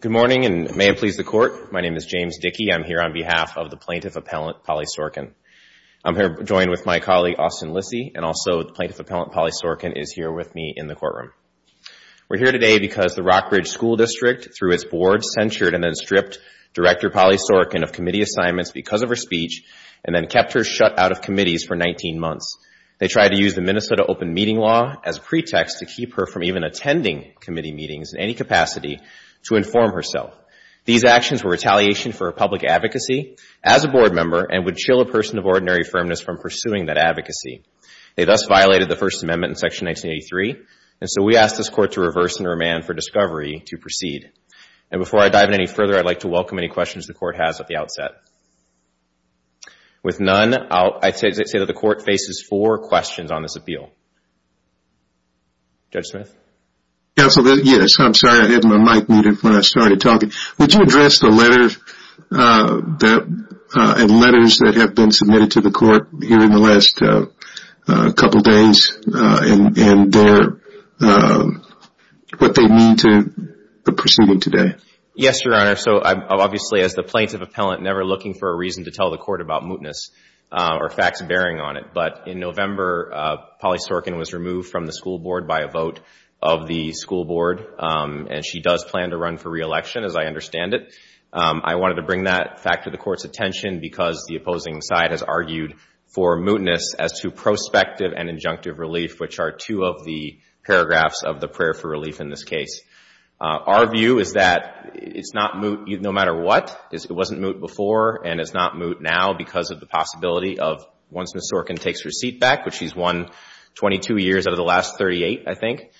Good morning and may it please the court. My name is James Dickey. I'm here on behalf of the Plaintiff Appellant Polly Sorcan. I'm here joined with my colleague Austin Lissy and also the Plaintiff Appellant Polly Sorcan is here with me in the courtroom. We're here today because the Rock Ridge School District through its board censured and then stripped Director Polly Sorcan of committee assignments because of her speech and then kept her shut out of committees for 19 months. They tried to use the Minnesota Open Meeting Law as a pretext to keep her from even attending committee meetings in any capacity to inform herself. These actions were retaliation for public advocacy as a board member and would chill a person of ordinary firmness from pursuing that advocacy. They thus violated the First Amendment in Section 1983 and so we ask this court to reverse and remand for discovery to proceed. And before I dive in any further, I'd like to welcome any questions the court has at the outset. With none, I'd say that the court faces four questions on this appeal. Judge Smith? Judge Smith Yes, I'm sorry. I had my mic muted when I was asked to speak. The first question is, has the plaintiff appellant been submitted to the court here in the last couple of days and what they mean to the proceeding today? Yes, Your Honor. So, obviously, as the Plaintiff Appellant, never looking for a reason to tell the court about mootness or facts bearing on it. But in November, Polly Sorcan was removed from the school board by a vote of the school board and she does plan to run for re-election as I understand it. I wanted to bring that fact to the court's attention because the opposing side has argued for mootness as to prospective and injunctive relief, which are two of the paragraphs of the prayer for relief in this case. Our view is that it's not moot no matter what. It wasn't moot before and it's not moot now because of the possibility of once Ms. Sorcan takes her seat back, which she's won 22 years out of the last 38, I think,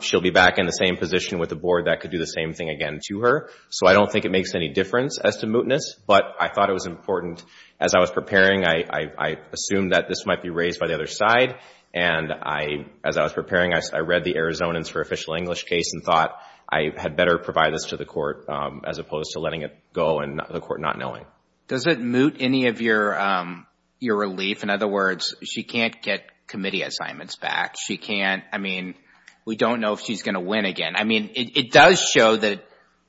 she'll be back in the same position with the board that could do the same thing again to her. So, I don't think it makes any difference as to mootness, but I thought it was important as I was preparing. I assumed that this might be raised by the other side and I, as I was preparing, I read the Arizonans for Official English case and thought I had better provide this to the court as opposed to letting it go and the court not knowing. Does it moot any of your relief? In other words, she can't get committee assignments back. She can't, I mean, we don't know if she's going to win again. I mean, it does show that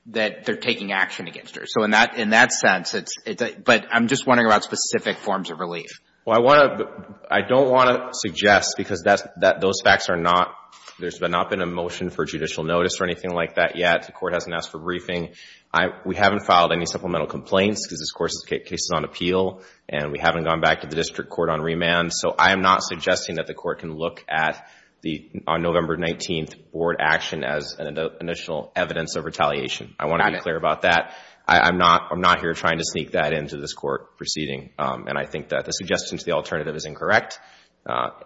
they're taking action against her. So, in that sense, but I'm just wondering about specific forms of relief. Well, I don't want to suggest because those facts are not, there's not been a motion for judicial notice or anything like that yet. The court hasn't asked for briefing. We haven't filed any supplemental complaints because this case is on appeal and we haven't gone back to the district court on remand. So, I am not suggesting that the court can look at the, on November 19th, board action as an initial evidence of retaliation. I want to be clear about that. I'm not, I'm not here trying to sneak that into this court proceeding and I think that the suggestion to the alternative is incorrect.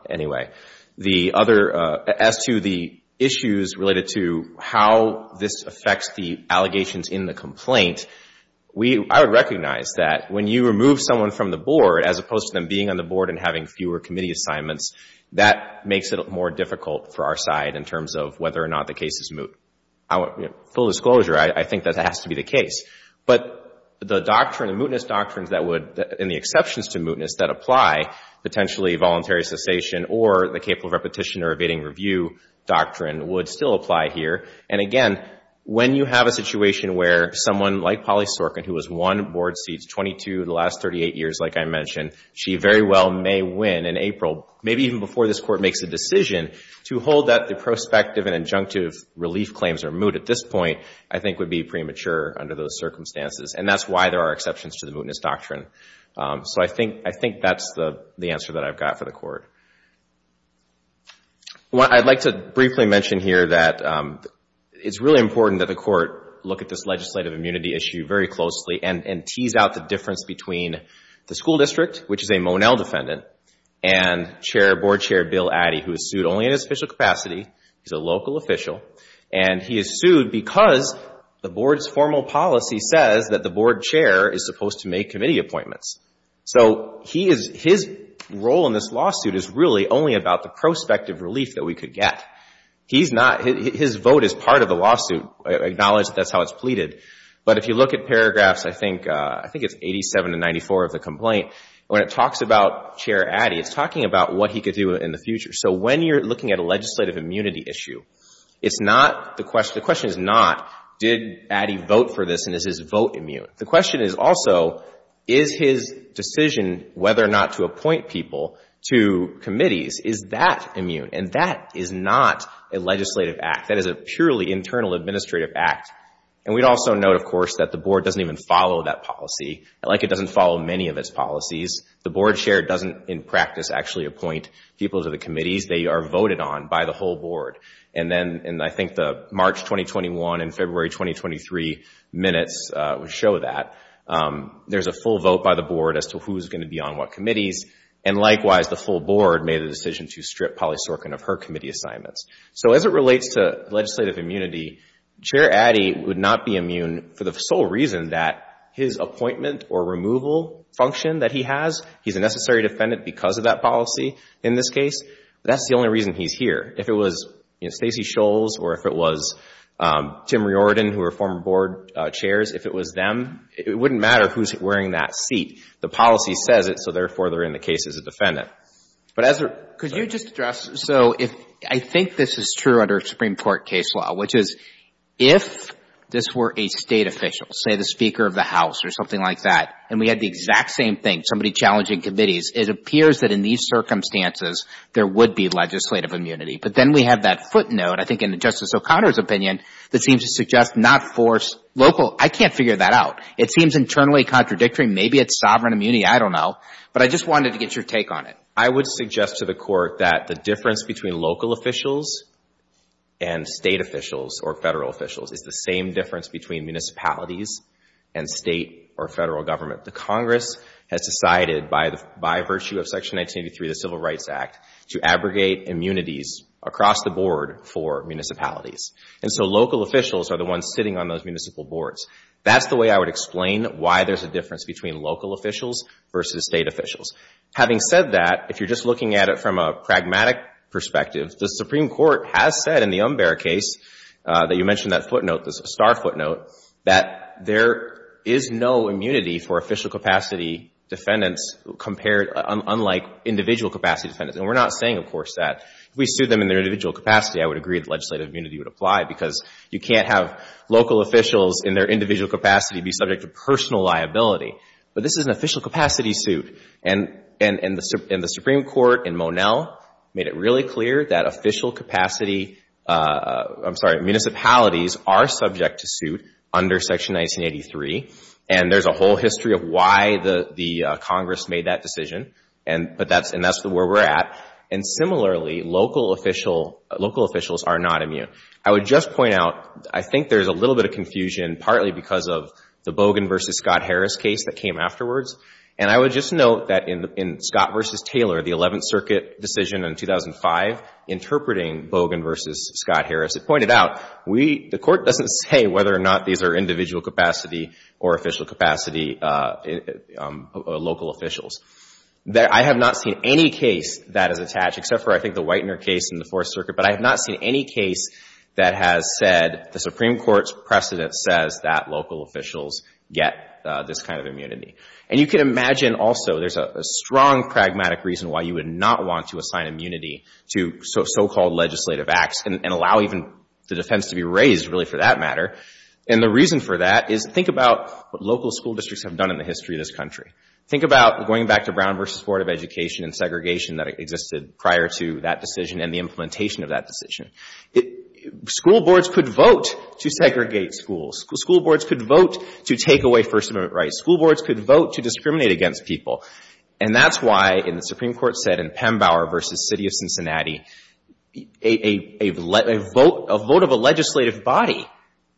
Anyway, the other, as to the issues related to how this affects the allegations in the complaint, we, I would recognize that when you remove someone from the board, as opposed to them being on the board and having fewer committee assignments, that makes it more difficult for our side in terms of whether or not the case is moot. Full disclosure, I think that has to be the case. But the doctrine, the mootness doctrines that would, and the exceptions to mootness that apply, potentially voluntary cessation or the capable repetition or evading review doctrine would still apply here. And again, when you have a situation where someone like Polly Sorkin, who has won board proceeds 22 of the last 38 years, like I mentioned, she very well may win in April, maybe even before this court makes a decision, to hold that the prospective and injunctive relief claims are moot at this point, I think would be premature under those circumstances. And that's why there are exceptions to the mootness doctrine. So I think, I think that's the, the answer that I've got for the court. Well, I'd like to briefly mention here that it's really important that the court look at this legislative immunity issue very closely and tease out the difference between the school district, which is a Monell defendant, and chair, board chair Bill Addy, who is sued only in his official capacity. He's a local official. And he is sued because the board's formal policy says that the board chair is supposed to make committee appointments. So he is, his role in this lawsuit is really only about the prospective relief that we could get. He's not, his vote is part of the lawsuit. I acknowledge that's how it's pleaded. But if you look at paragraphs, I think, I think it's 87 to 94 of the complaint. When it talks about chair Addy, it's talking about what he could do in the future. So when you're looking at a legislative immunity issue, it's not the question, the question is not, did Addy vote for this and is his vote immune? The question is also, is his decision whether or not to appoint people to committees, is that immune? And that is not a legislative act. That is a purely internal administrative act. And we'd also note, of course, that the board doesn't even follow that policy, like it doesn't follow many of its policies. The board chair doesn't in practice actually appoint people to the committees. They are voted on by the whole board. And then, and I think the March 2021 and February 2023 minutes would show that. There's a full vote by the board as to who's going to be on what committees. And likewise, the full board made the decision to strip Polly Sorkin of her committee assignments. So as it relates to legislative immunity, Chair Addy would not be immune for the sole reason that his appointment or removal function that he has, he's a necessary defendant because of that policy in this case. That's the only reason he's here. If it was, you know, Stacey Shoals or if it was Tim Riordan, who were former board chairs, if it was them, it wouldn't matter who's wearing that seat. The policy says it, so therefore, they're in the case as a defendant. But as a... Could you just address, so if, I think this is true under Supreme Court case law, which is if this were a state official, say the Speaker of the House or something like that, and we had the exact same thing, somebody challenging committees, it appears that in these circumstances, there would be legislative immunity. But then we have that footnote, I think in Justice O'Connor's opinion, that seems to suggest not force local, I can't figure that out. It seems internally contradictory. Maybe it's sovereign immunity, I don't know. But I just wanted to get your take on it. I would suggest to the Court that the difference between local officials and state officials or Federal officials is the same difference between municipalities and State or Federal government. The Congress has decided by virtue of Section 1983, the Civil Rights Act, to abrogate immunities across the board for municipalities. And so local officials are the ones sitting on those municipal boards. That's the way I would explain why there's a difference between local officials versus State officials. Having said that, if you're just looking at it from a pragmatic perspective, the Supreme Court has said in the Umber case that you mentioned that footnote, the star footnote, that there is no immunity for official capacity defendants compared, unlike individual capacity defendants. And we're not saying, of course, that if we sued them in their individual capacity, I would agree that legislative immunity would apply because you can't have local officials in their individual capacity be subject to personal liability. But this is an official capacity suit. And the Supreme Court in Monell made it really clear that official capacity, I'm sorry, municipalities are subject to suit under Section 1983. And there's a whole history of why the Congress made that decision. And that's where we're at. And similarly, local officials are not immune. I would just point out, I think there's a little bit of confusion partly because of the Bogan v. Scott Harris case that came afterwards. And I would just note that in Scott v. Taylor, the 11th Circuit decision in 2005, interpreting Bogan v. Scott Harris, it pointed out we, the Court doesn't say whether or not these are individual capacity or official capacity local officials. I have not seen any case that is attached, except for I think the Whitener case in the Fourth Circuit, but I have not seen any case that has said the Supreme Court's precedent says that local officials get this kind of immunity. And you can imagine also there's a strong pragmatic reason why you would not want to assign immunity to so-called legislative acts and allow even the defense to be raised really for that matter. And the reason for that is think about what local school districts have done in the history of this country. Think about going back to Brown v. Board of Education and segregation that existed prior to that decision and the implementation of that decision. School boards could vote to segregate schools. School boards could vote to take away First Amendment rights. School boards could vote to discriminate against people. And that's why, and the Supreme Court said in Pembauer v. City of Cincinnati, a vote of a legislative body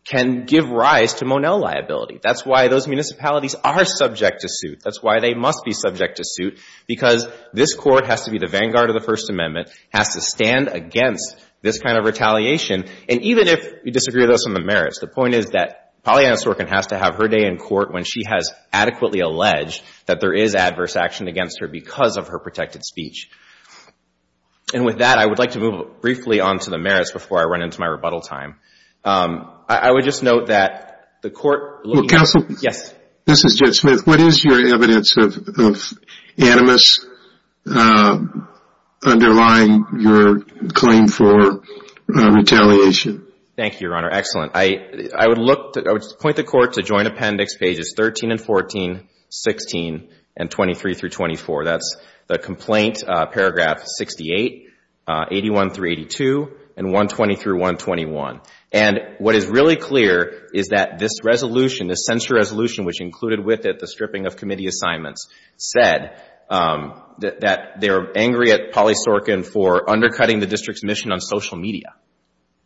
can give rise to Monell liability. That's why those municipalities are subject to suit. That's why they must be subject to suit, because this Court has to be against this kind of retaliation. And even if you disagree with us on the merits, the point is that Pollyanna Sorkin has to have her day in court when she has adequately alleged that there is adverse action against her because of her protected speech. And with that, I would like to move briefly on to the merits before I run into my rebuttal time. I would just note that the Court looking at this case. Underlying your claim for retaliation. Thank you, Your Honor. Excellent. I would point the Court to Joint Appendix pages 13 and 14, 16, and 23 through 24. That's the complaint paragraph 68, 81 through 82, and 120 through 121. And what is really clear is that this resolution, this censure resolution, which included with it a stripping of committee assignments, said that they are angry at Polly Sorkin for undercutting the District's mission on social media.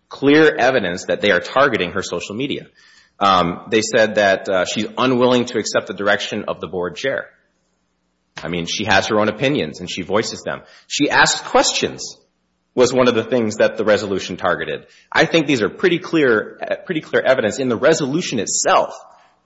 Clear evidence that they are targeting her social media. They said that she's unwilling to accept the direction of the Board Chair. I mean, she has her own opinions, and she voices them. She asked questions was one of the things that the resolution targeted. I think these are pretty clear evidence in the resolution itself,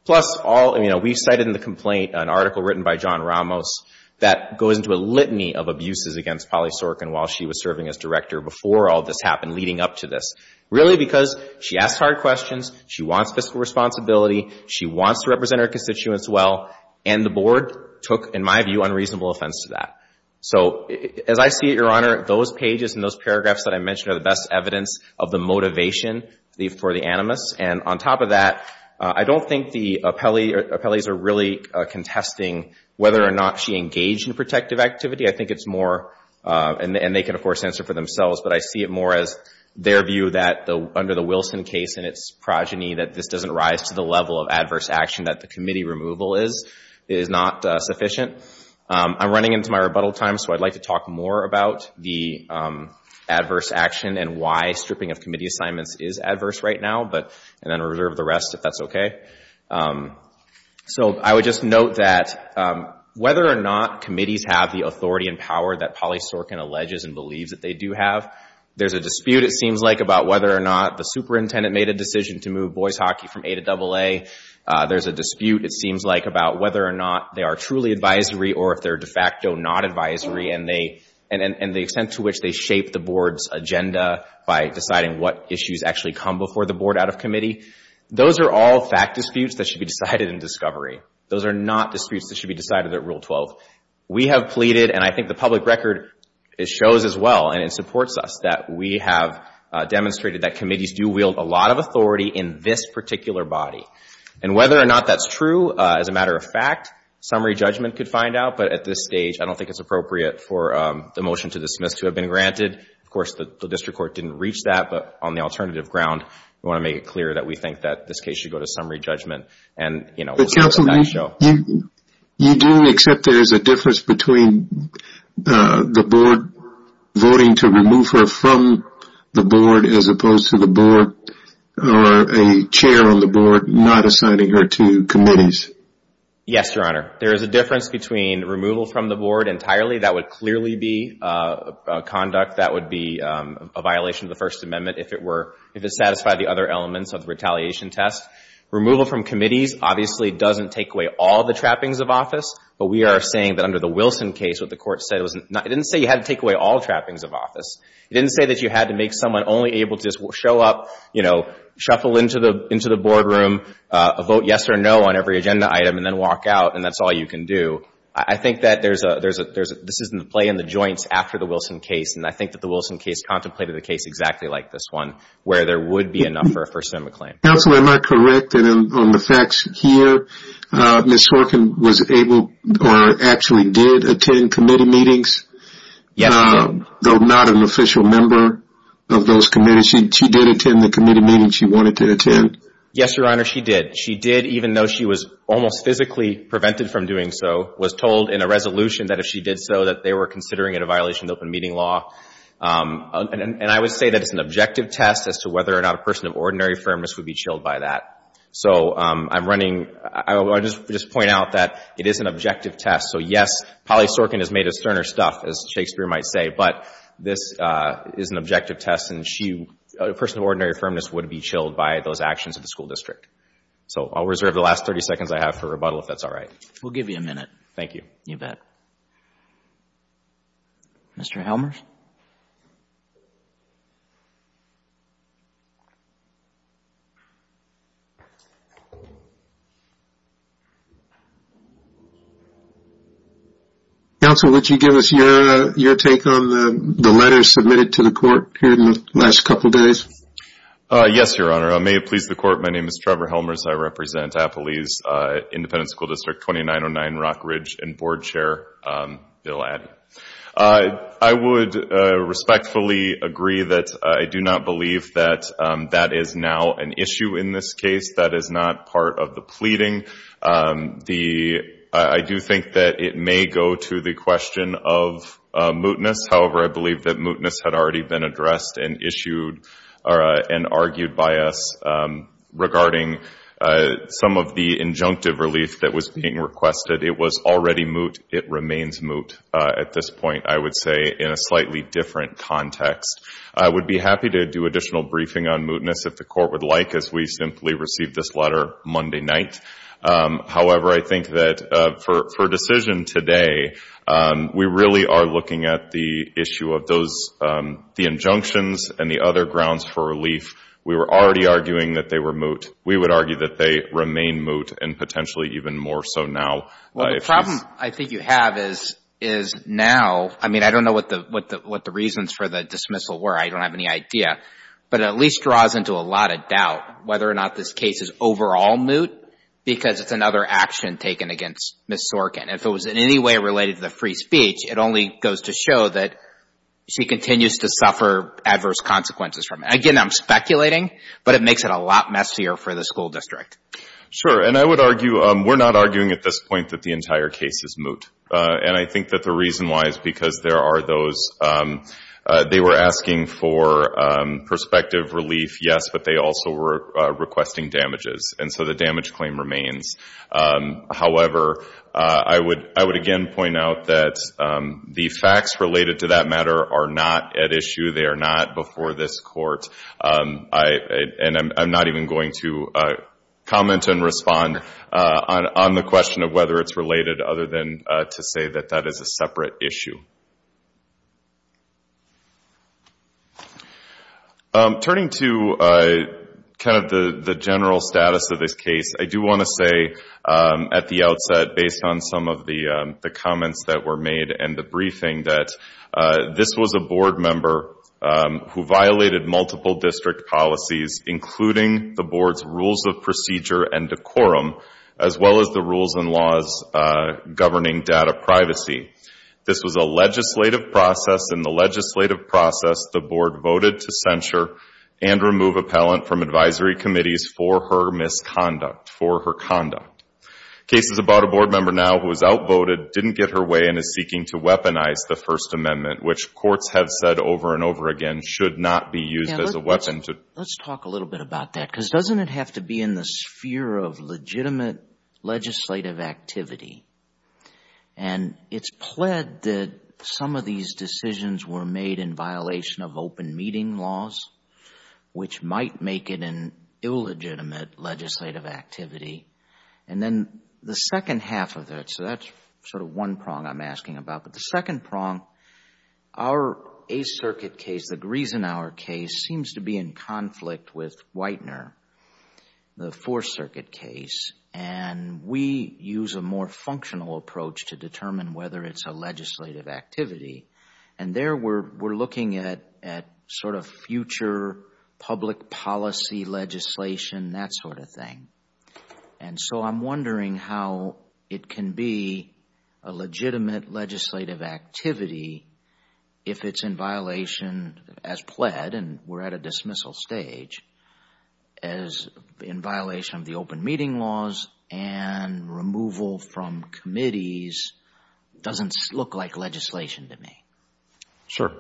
plus all, you know, we've cited in the complaint an article written by John Ramos that goes into a litany of abuses against Polly Sorkin while she was serving as director before all this happened, leading up to this. Really because she asked hard questions, she wants fiscal responsibility, she wants to represent her constituents well, and the Board took, in my view, unreasonable offense to that. So as I see it, Your Honor, those pages and those paragraphs that I mentioned are the best evidence of the motivation for the animus, and on top of that, I don't think the appellees are really contesting whether or not she engaged in protective activity. I think it's more, and they can, of course, answer for themselves, but I see it more as their view that under the Wilson case and its progeny, that this doesn't rise to the level of adverse action that the committee removal is. It is not sufficient. I'm running into my rebuttal time, so I'd like to is adverse right now, and then reserve the rest if that's okay. So I would just note that whether or not committees have the authority and power that Polly Sorkin alleges and believes that they do have, there's a dispute, it seems like, about whether or not the superintendent made a decision to move boys hockey from A to AA. There's a dispute, it seems like, about whether or not they are truly advisory or if they're boards agenda by deciding what issues actually come before the board out of committee. Those are all fact disputes that should be decided in discovery. Those are not disputes that should be decided at Rule 12. We have pleaded, and I think the public record shows as well, and it supports us, that we have demonstrated that committees do wield a lot of authority in this particular body, and whether or not that's true, as a matter of fact, summary judgment could find out, but at this stage, I don't think it's appropriate for the motion to dismiss to have been granted. Of course, the district court didn't reach that, but on the alternative ground, we want to make it clear that we think that this case should go to summary judgment, and, you know, we'll see what the facts show. But counsel, you do accept there is a difference between the board voting to remove her from the board as opposed to the board or a chair on the board not assigning her to committees? Yes, Your Honor. There is a difference between removal from the board entirely, that would clearly be a conduct that would be a violation of the First Amendment if it were, if it satisfied the other elements of the retaliation test. Removal from committees obviously doesn't take away all the trappings of office, but we are saying that under the Wilson case, what the court said was, it didn't say you had to take away all trappings of office. It didn't say that you had to make someone only able to show up, you know, shuffle into the board room, vote yes or no on every agenda item, and then walk out, and that's all you can do. I think that there's a, there's a, there's a, this isn't a play in the joints after the Wilson case, and I think that the Wilson case contemplated the case exactly like this one, where there would be enough for a First Amendment claim. Counsel, am I correct on the facts here? Ms. Horkin was able or actually did attend committee meetings, though not an official member of those committees. She did attend the committee meeting she wanted to attend? Yes, Your Honor, she did. She did, even though she was almost physically prevented from doing so, was told in a resolution that if she did so, that they were considering it a violation of open meeting law, and I would say that it's an objective test as to whether or not a person of ordinary firmness would be chilled by that. So, I'm running, I just point out that it is an objective test. So, yes, Polly Sorkin has made us sterner stuff, as Shakespeare might say, but this is an objective test, and she, a person of ordinary firmness would be chilled by those actions of the school district. So, I'll reserve the last 30 seconds I have for rebuttal, if that's all right. We'll give you a minute. Thank you. You bet. Mr. Helmers? Counsel, would you give us your take on the letter submitted to the court here in the last hour? I would respectfully agree that I do not believe that that is now an issue in this case. That is not part of the pleading. I do think that it may go to the question of mootness. However, I believe that mootness had already been addressed and argued by us regarding some of the injunctive relief that was being requested. It was already moot. It remains moot at this point, I would say, in a slightly different context. I would be happy to do additional briefing on mootness if the court would like, as we simply received this letter Monday night. However, I think that for decision today, we really are looking at the issue of the injunctions and the other grounds for relief. We were already arguing that they were moot. We would argue that they remain moot and potentially even more so now. Well, the problem I think you have is now, I mean, I don't know what the reasons for the dismissal were. I don't have any idea. But it at least draws into a lot of doubt whether or not this case is overall moot because it's another action taken against Ms. Sorkin. If it was in any way related to the free speech, it only goes to show that she continues to suffer adverse consequences from it. Again, I'm speculating, but it makes it a lot messier for the school district. Sure. And I would argue, we're not arguing at this point that the entire case is moot. And I think that the reason why is because there are those, they were asking for perspective relief, yes, but they also were requesting damages. And so the damage claim remains. However, I would again point out that the facts related to that matter are not at issue. They are not before this court. And I'm not even going to comment and respond on the question of whether it's related other than to say that that is a separate issue. Turning to kind of the general status of this case, I do want to say at the outset, based on some of the comments that were made and the briefing, that this was a board member who violated multiple district policies, including the board's rules of procedure and decorum, as well as the rules and laws governing data privacy. This was a legislative process. In the legislative process, the board voted to censure and remove appellant from advisory committees for her misconduct, for her conduct. Cases about a board member now who was outvoted didn't get her way and is seeking to weaponize the First Amendment, which courts have said over and over again should not be used as a weapon. Let's talk a little bit about that because doesn't it have to be in the sphere of legitimate legislative activity? And it's pled that some of these decisions were made in violation of open meeting laws, which might make it an illegitimate legislative activity. And then the second half of that, so that's sort of one prong I'm asking about. But the second prong, our Eighth Circuit case, the Griesenauer case, seems to be in conflict with Whitener, the Fourth Circuit case. And we use a more functional approach to determine whether it's a legislative activity. And there we're looking at sort of future public policy legislation, that sort of thing. And so I'm wondering how it can be a legitimate legislative activity if it's in violation as pled, and we're at a dismissal stage, as in violation of the open meeting laws, and removal from committees doesn't look like legislation to me. Sure.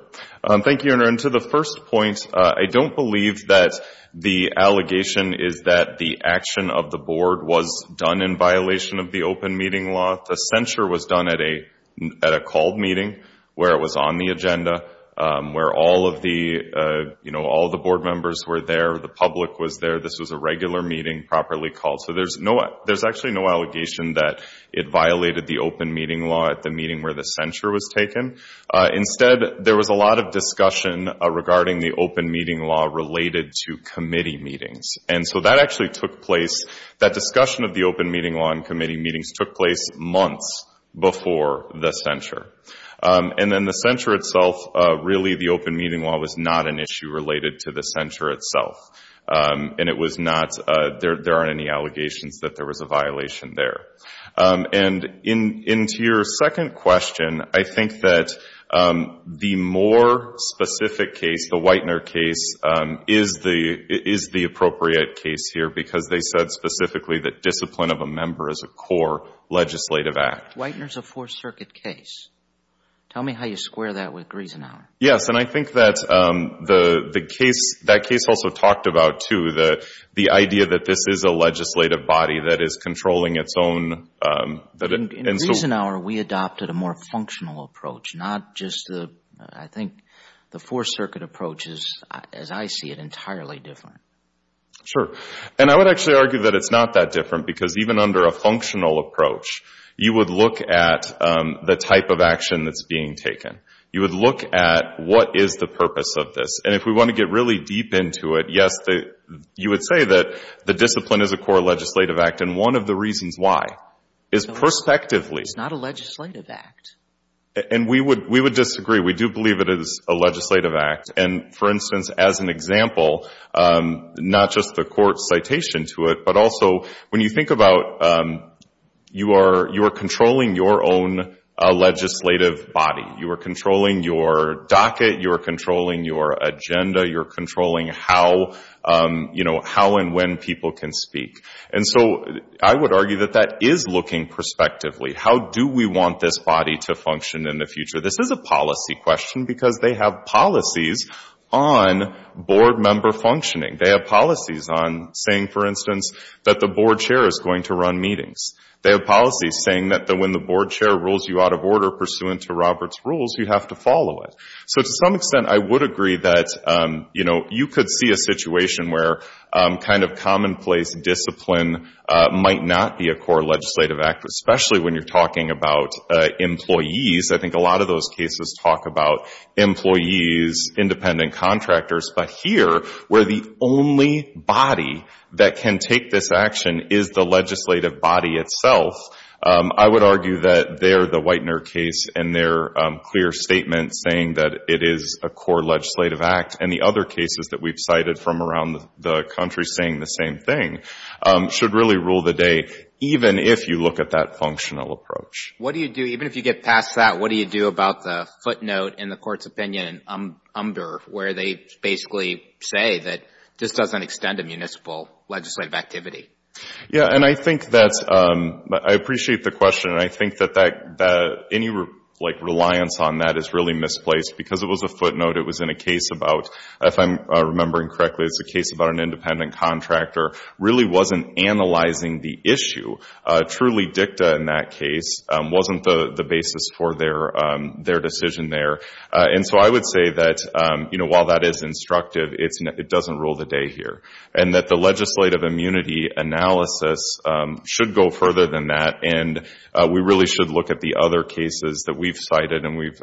Thank you, Your Honor. And to the first point, I don't believe that the allegation is that the action of the board was done in violation of the open meeting law. The censure was done at a called meeting where it was on the agenda, where all of the, you know, all of the board members were there, the public was there, this was a regular meeting, properly called. So there's no, there's actually no allegation that it violated the open meeting law at the meeting where the censure was taken. Instead, there was a lot of discussion regarding the open meeting law related to committee meetings. And so that actually took place, that discussion of the open meeting law and committee meetings took place months before the censure. And then the censure itself, really the open meeting law was not an issue related to the censure itself. And it was not, there aren't any allegations that there was a violation there. And into your second question, I think that the more specific case, the Whitener case, is the appropriate case here because they said specifically that discipline of a member is a core legislative act. Whitener's a fourth circuit case. Tell me how you square that with Griesenhauer. Yes, and I think that the case, that case also talked about too, the idea that this is a legislative body that is controlling its own. In Griesenhauer, we adopted a more functional approach, not just the, I think, the fourth circuit approach is, as I see it, entirely different. Sure. And I would actually argue that it's not that different because even under a functional approach, you would look at the type of action that's being taken. You would look at what is the purpose of this. And if we want to get really deep into it, yes, you would say that the discipline is a core legislative act. And one of the reasons why is perspectively. It's not a legislative act. And we would, we would disagree. We do believe it is a legislative act. And for instance, as an example, not just the court's citation to it, but also when you think about you are, you are controlling your own legislative body. You are controlling your docket. You're controlling your agenda. You're controlling how, you know, how and when people can speak. And so I would argue that that is looking perspectively. How do we want this body to function in the future? This is a policy question because they have policies on board member functioning. They have policies on saying, for instance, that the board chair is going to run meetings. They have policies saying that when the board chair rules you out of order pursuant to Robert's rules, you have to follow it. So to some extent, I would agree that, you know, you could see a situation where kind of commonplace discipline might not be a core legislative act, especially when you're talking about employees. I think a lot of those cases talk about employees, independent contractors. But here, where the only body that can take this action is the legislative body itself, I would argue that there, the Whitener case and their clear statement saying that it is a core legislative act and the other cases that we've cited from around the country saying the same thing should really rule the day, even if you look at that functional approach. What do you do, even if you get past that, what do you do about the footnote in the Court's opinion in UMBR where they basically say that this doesn't extend to municipal legislative activity? Yeah. And I think that's, I appreciate the question. And I think that any, like, reliance on that is really misplaced because it was a footnote. It was in a case about, if I'm remembering correctly, it's a case about an independent contractor really wasn't analyzing the issue. Truly, DICTA in that case wasn't the basis for their decision there. And so I would say that, you know, while that is instructive, it doesn't rule the day here. And that the legislative immunity analysis should go further than that. And we really should look at the other cases that we've cited. And we've,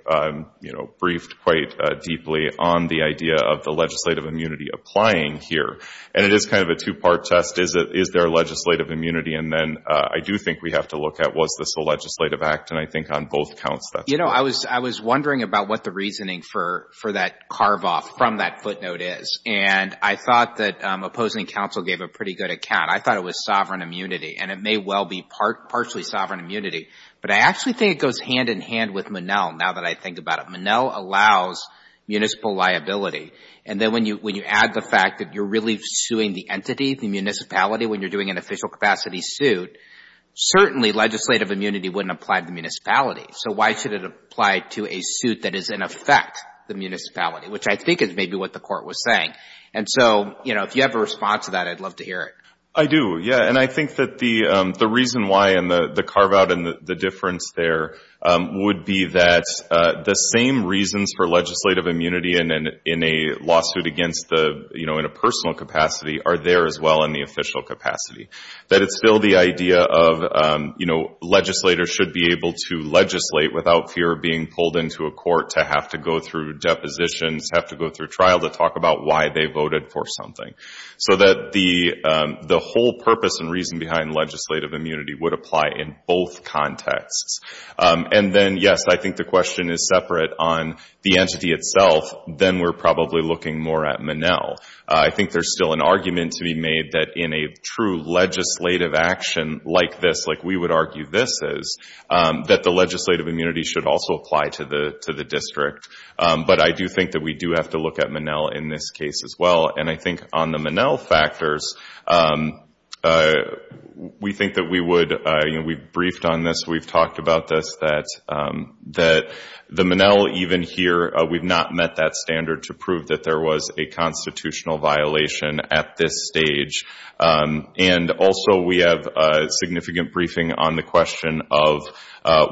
you know, briefed quite deeply on the idea of the legislative immunity applying here. And it is kind of a two-part test. Is there legislative immunity? And then I do think we have to look at, was this a legislative act? And I think on both counts, that's right. You know, I was wondering about what the reasoning for that carve-off from that footnote is. And I thought that opposing counsel gave a pretty good account. I thought it was sovereign immunity. And it may well be partially sovereign immunity. But I actually think it goes hand in hand with Monell, now that I think about it. Monell allows municipal liability. And then when you add the fact that you're really suing the entity, the municipality, when you're doing an official capacity suit, certainly legislative immunity wouldn't apply to the municipality. So why should it apply to a suit that is in effect the municipality, which I think is maybe what the court was saying. And so, you know, if you have a response to that, I'd love to hear it. I do, yeah. And I think that the reason why and the carve-out and the difference there would be that the same reasons for legislative immunity in a lawsuit against the, you know, in a personal capacity, are there as well in the official capacity. That it's still the idea of, you know, legislators should be able to legislate without fear of being pulled into a court to have to go through depositions, have to go through trial to talk about why they voted for something. So that the whole purpose and reason behind legislative immunity would apply in both contexts. And then, yes, I think the question is separate on the entity itself, then we're probably looking more at Monell. I think there's still an argument to be made that in a true legislative action like this, like we would argue this is, that the legislative immunity should also apply to the district. But I do think that we do have to look at Monell in this case as well. And I think on the Monell factors, we think that we would, you know, we've briefed on this, we've talked about this, that the Monell even here, we've not met that standard to prove that there was a constitutional violation at this stage. And also we have significant briefing on the question of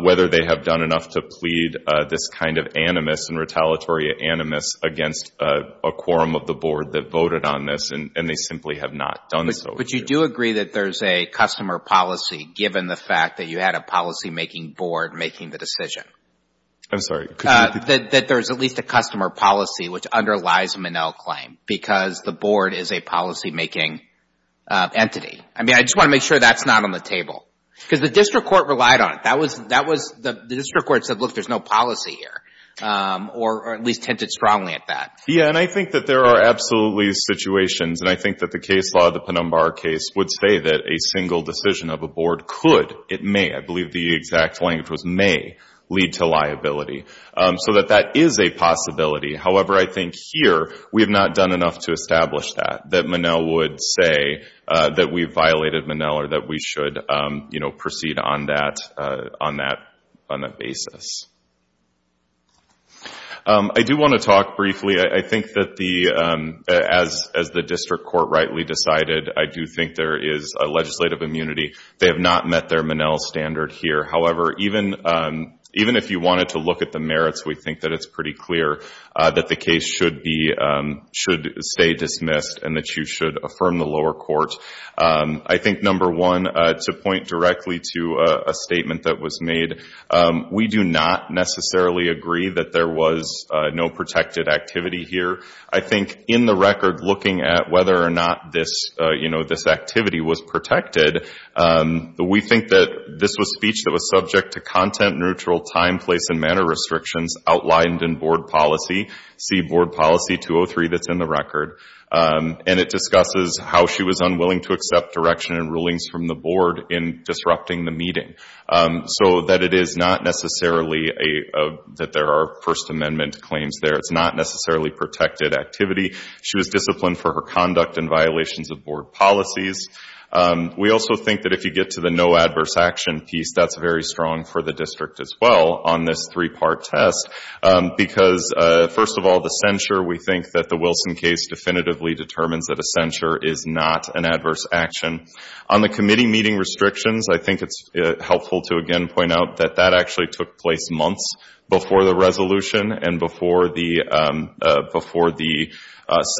whether they have done enough to plead this kind of animus and retaliatory animus against a quorum of the board that voted on this. And they simply have not done so. But you do agree that there's a customer policy, given the fact that you had a policymaking board making the decision? I'm sorry. That there's at least a customer policy which underlies the Monell claim, because the board is a policymaking entity. I mean, I just want to make sure that's not the table. Because the district court relied on it. That was, the district court said, look, there's no policy here. Or at least hinted strongly at that. Yeah. And I think that there are absolutely situations. And I think that the case law, the Ponombar case, would say that a single decision of a board could, it may, I believe the exact language was may, lead to liability. So that that is a possibility. However, I think here we have not done enough to establish that, that Monell would say that we violated Monell or that we should, you know, proceed on that, on that basis. I do want to talk briefly. I think that the, as the district court rightly decided, I do think there is a legislative immunity. They have not met their Monell standard here. However, even if you wanted to look at the merits, we think that it's pretty clear that the case should be, should stay dismissed and that you should affirm the court. I think number one, to point directly to a statement that was made, we do not necessarily agree that there was no protected activity here. I think in the record, looking at whether or not this, you know, this activity was protected, we think that this was speech that was subject to content neutral time, place, and manner restrictions outlined in board policy, see board policy 203 that's in the record. And it discusses how she was unwilling to accept direction and rulings from the board in disrupting the meeting. So that it is not necessarily a, that there are first amendment claims there. It's not necessarily protected activity. She was disciplined for her conduct and violations of board policies. We also think that if you get to the no adverse action piece, that's very strong for the district as well on this three-part test, because first of all, the censure, we think that the Wilson case definitively determines that a censure is not an adverse action. On the committee meeting restrictions, I think it's helpful to again point out that that actually took place months before the resolution and before the, before the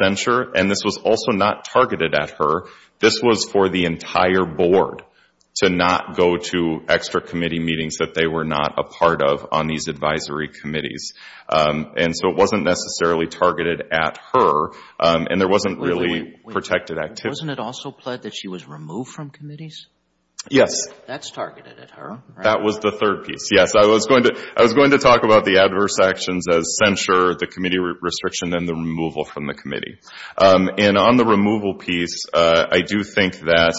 censure. And this was also not targeted at her. This was for the entire advisory committees. And so it wasn't necessarily targeted at her. And there wasn't really protected activity. Wasn't it also pled that she was removed from committees? Yes. That's targeted at her. That was the third piece. Yes. I was going to, I was going to talk about the adverse actions as censure, the committee restriction, and the removal from the committee. And on the removal piece, I do think that,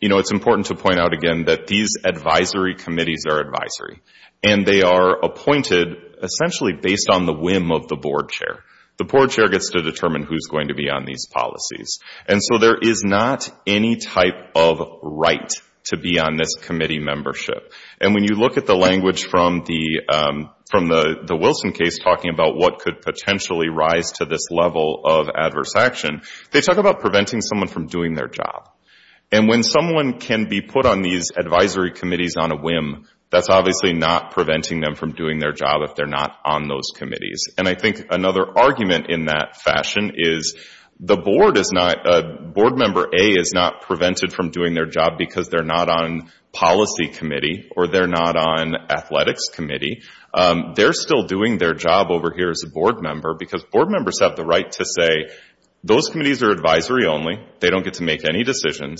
you know, it's important to point out again that these advisory committees are advisory. And they are appointed essentially based on the whim of the board chair. The board chair gets to determine who's going to be on these policies. And so there is not any type of right to be on this committee membership. And when you look at the language from the, from the Wilson case talking about what could potentially rise to this level of adverse action, they talk about preventing someone from doing their job. And when someone can be put on these advisory committees on a whim, that's obviously not preventing them from doing their job if they're not on those committees. And I think another argument in that fashion is the board is not, board member A is not prevented from doing their job because they're not on policy committee or they're not on athletics committee. They're still doing their job over here as a board member because board members have the right to say those committees are advisory only. They don't get to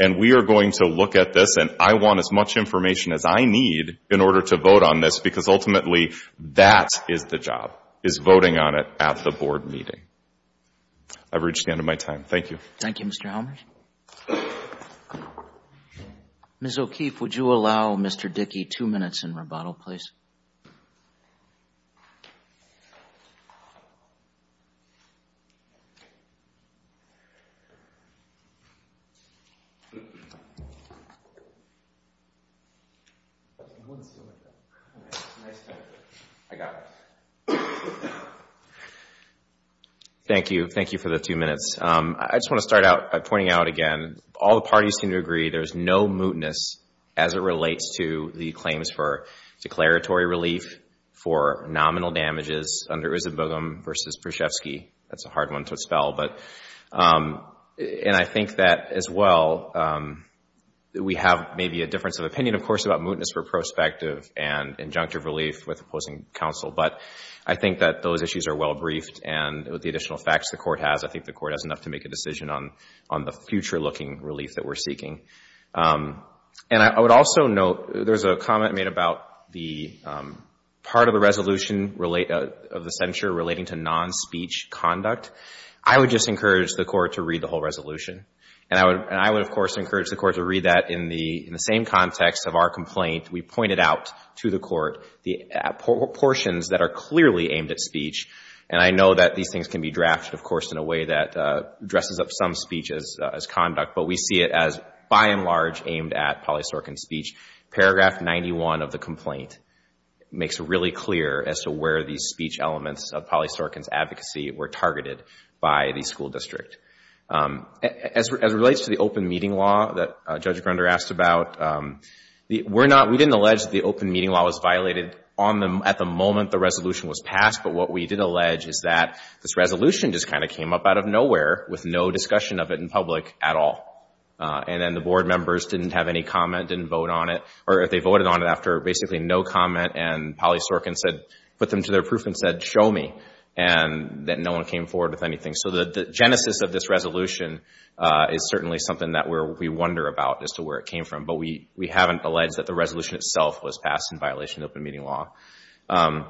And we are going to look at this, and I want as much information as I need in order to vote on this because ultimately that is the job, is voting on it at the board meeting. I've reached the end of my time. Thank you. Thank you, Mr. Helmers. Ms. O'Keefe, would you allow Mr. Dickey two minutes in rebuttal, please? I got it. Thank you. Thank you for the two minutes. I just want to start out by pointing out again, all the parties seem to agree there's no mootness as it relates to the claims for declaratory relief for nominal damages under Issa Boogham versus Przhevsky. That's a hard one to spell, and I think that as well we have maybe a difference of opinion, of course, about mootness for prospective and injunctive relief with opposing counsel, but I think that those issues are well briefed and with the additional facts the Court has, I think the Court has enough to make a decision on the future-looking relief that we're seeking. And I would also note there's a comment made about part of the resolution of the relating to non-speech conduct. I would just encourage the Court to read the whole resolution, and I would, of course, encourage the Court to read that in the same context of our complaint. We pointed out to the Court the portions that are clearly aimed at speech, and I know that these things can be drafted, of course, in a way that dresses up some speech as conduct, but we see it as by and large aimed at polysorcan speech. Paragraph 91 of the complaint makes it really clear as to where these speech elements of polysorcan advocacy were targeted by the school district. As it relates to the open meeting law that Judge Grunder asked about, we didn't allege that the open meeting law was violated at the moment the resolution was passed, but what we did allege is that this resolution just kind of came up out of nowhere with no discussion of it in public at all, and then the board members didn't have any comment, didn't vote on it, or if they voted on it after basically no comment and polysorcan said, put them to their proof and said, show me, and that no one came forward with anything. So the genesis of this resolution is certainly something that we wonder about as to where it came from, but we haven't alleged that the resolution itself was passed in violation of the open meeting law. If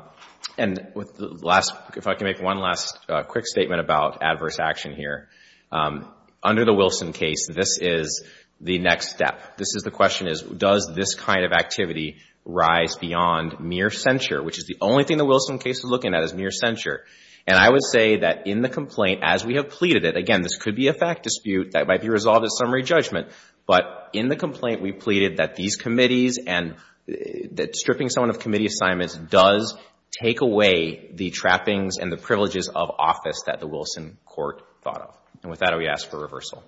I can make one last quick statement about adverse action here. Under the Wilson case, this is the next step. This is the question is, does this kind of activity rise beyond mere censure, which is the only thing the Wilson case is looking at is mere censure. And I would say that in the complaint, as we have pleaded it, again, this could be a fact dispute that might be resolved at summary judgment, but in the complaint we pleaded that these committees and that stripping someone of committee assignments does take away the trappings and the privileges of office that the Wilson court thought of. And with that, I would ask for reversal.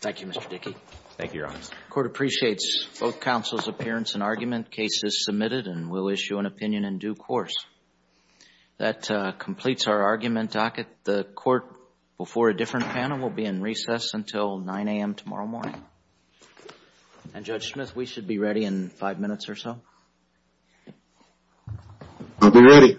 Thank you, Mr. Dickey. Thank you, Your Honor. The court appreciates both counsel's appearance and argument. Case is submitted and we'll issue an opinion in due course. That completes our argument docket. The court before a different panel will be in recess until 9 a.m. tomorrow morning. And Judge Smith, we should be ready in five minutes or so. I'll be ready. Thank you, Your Honor.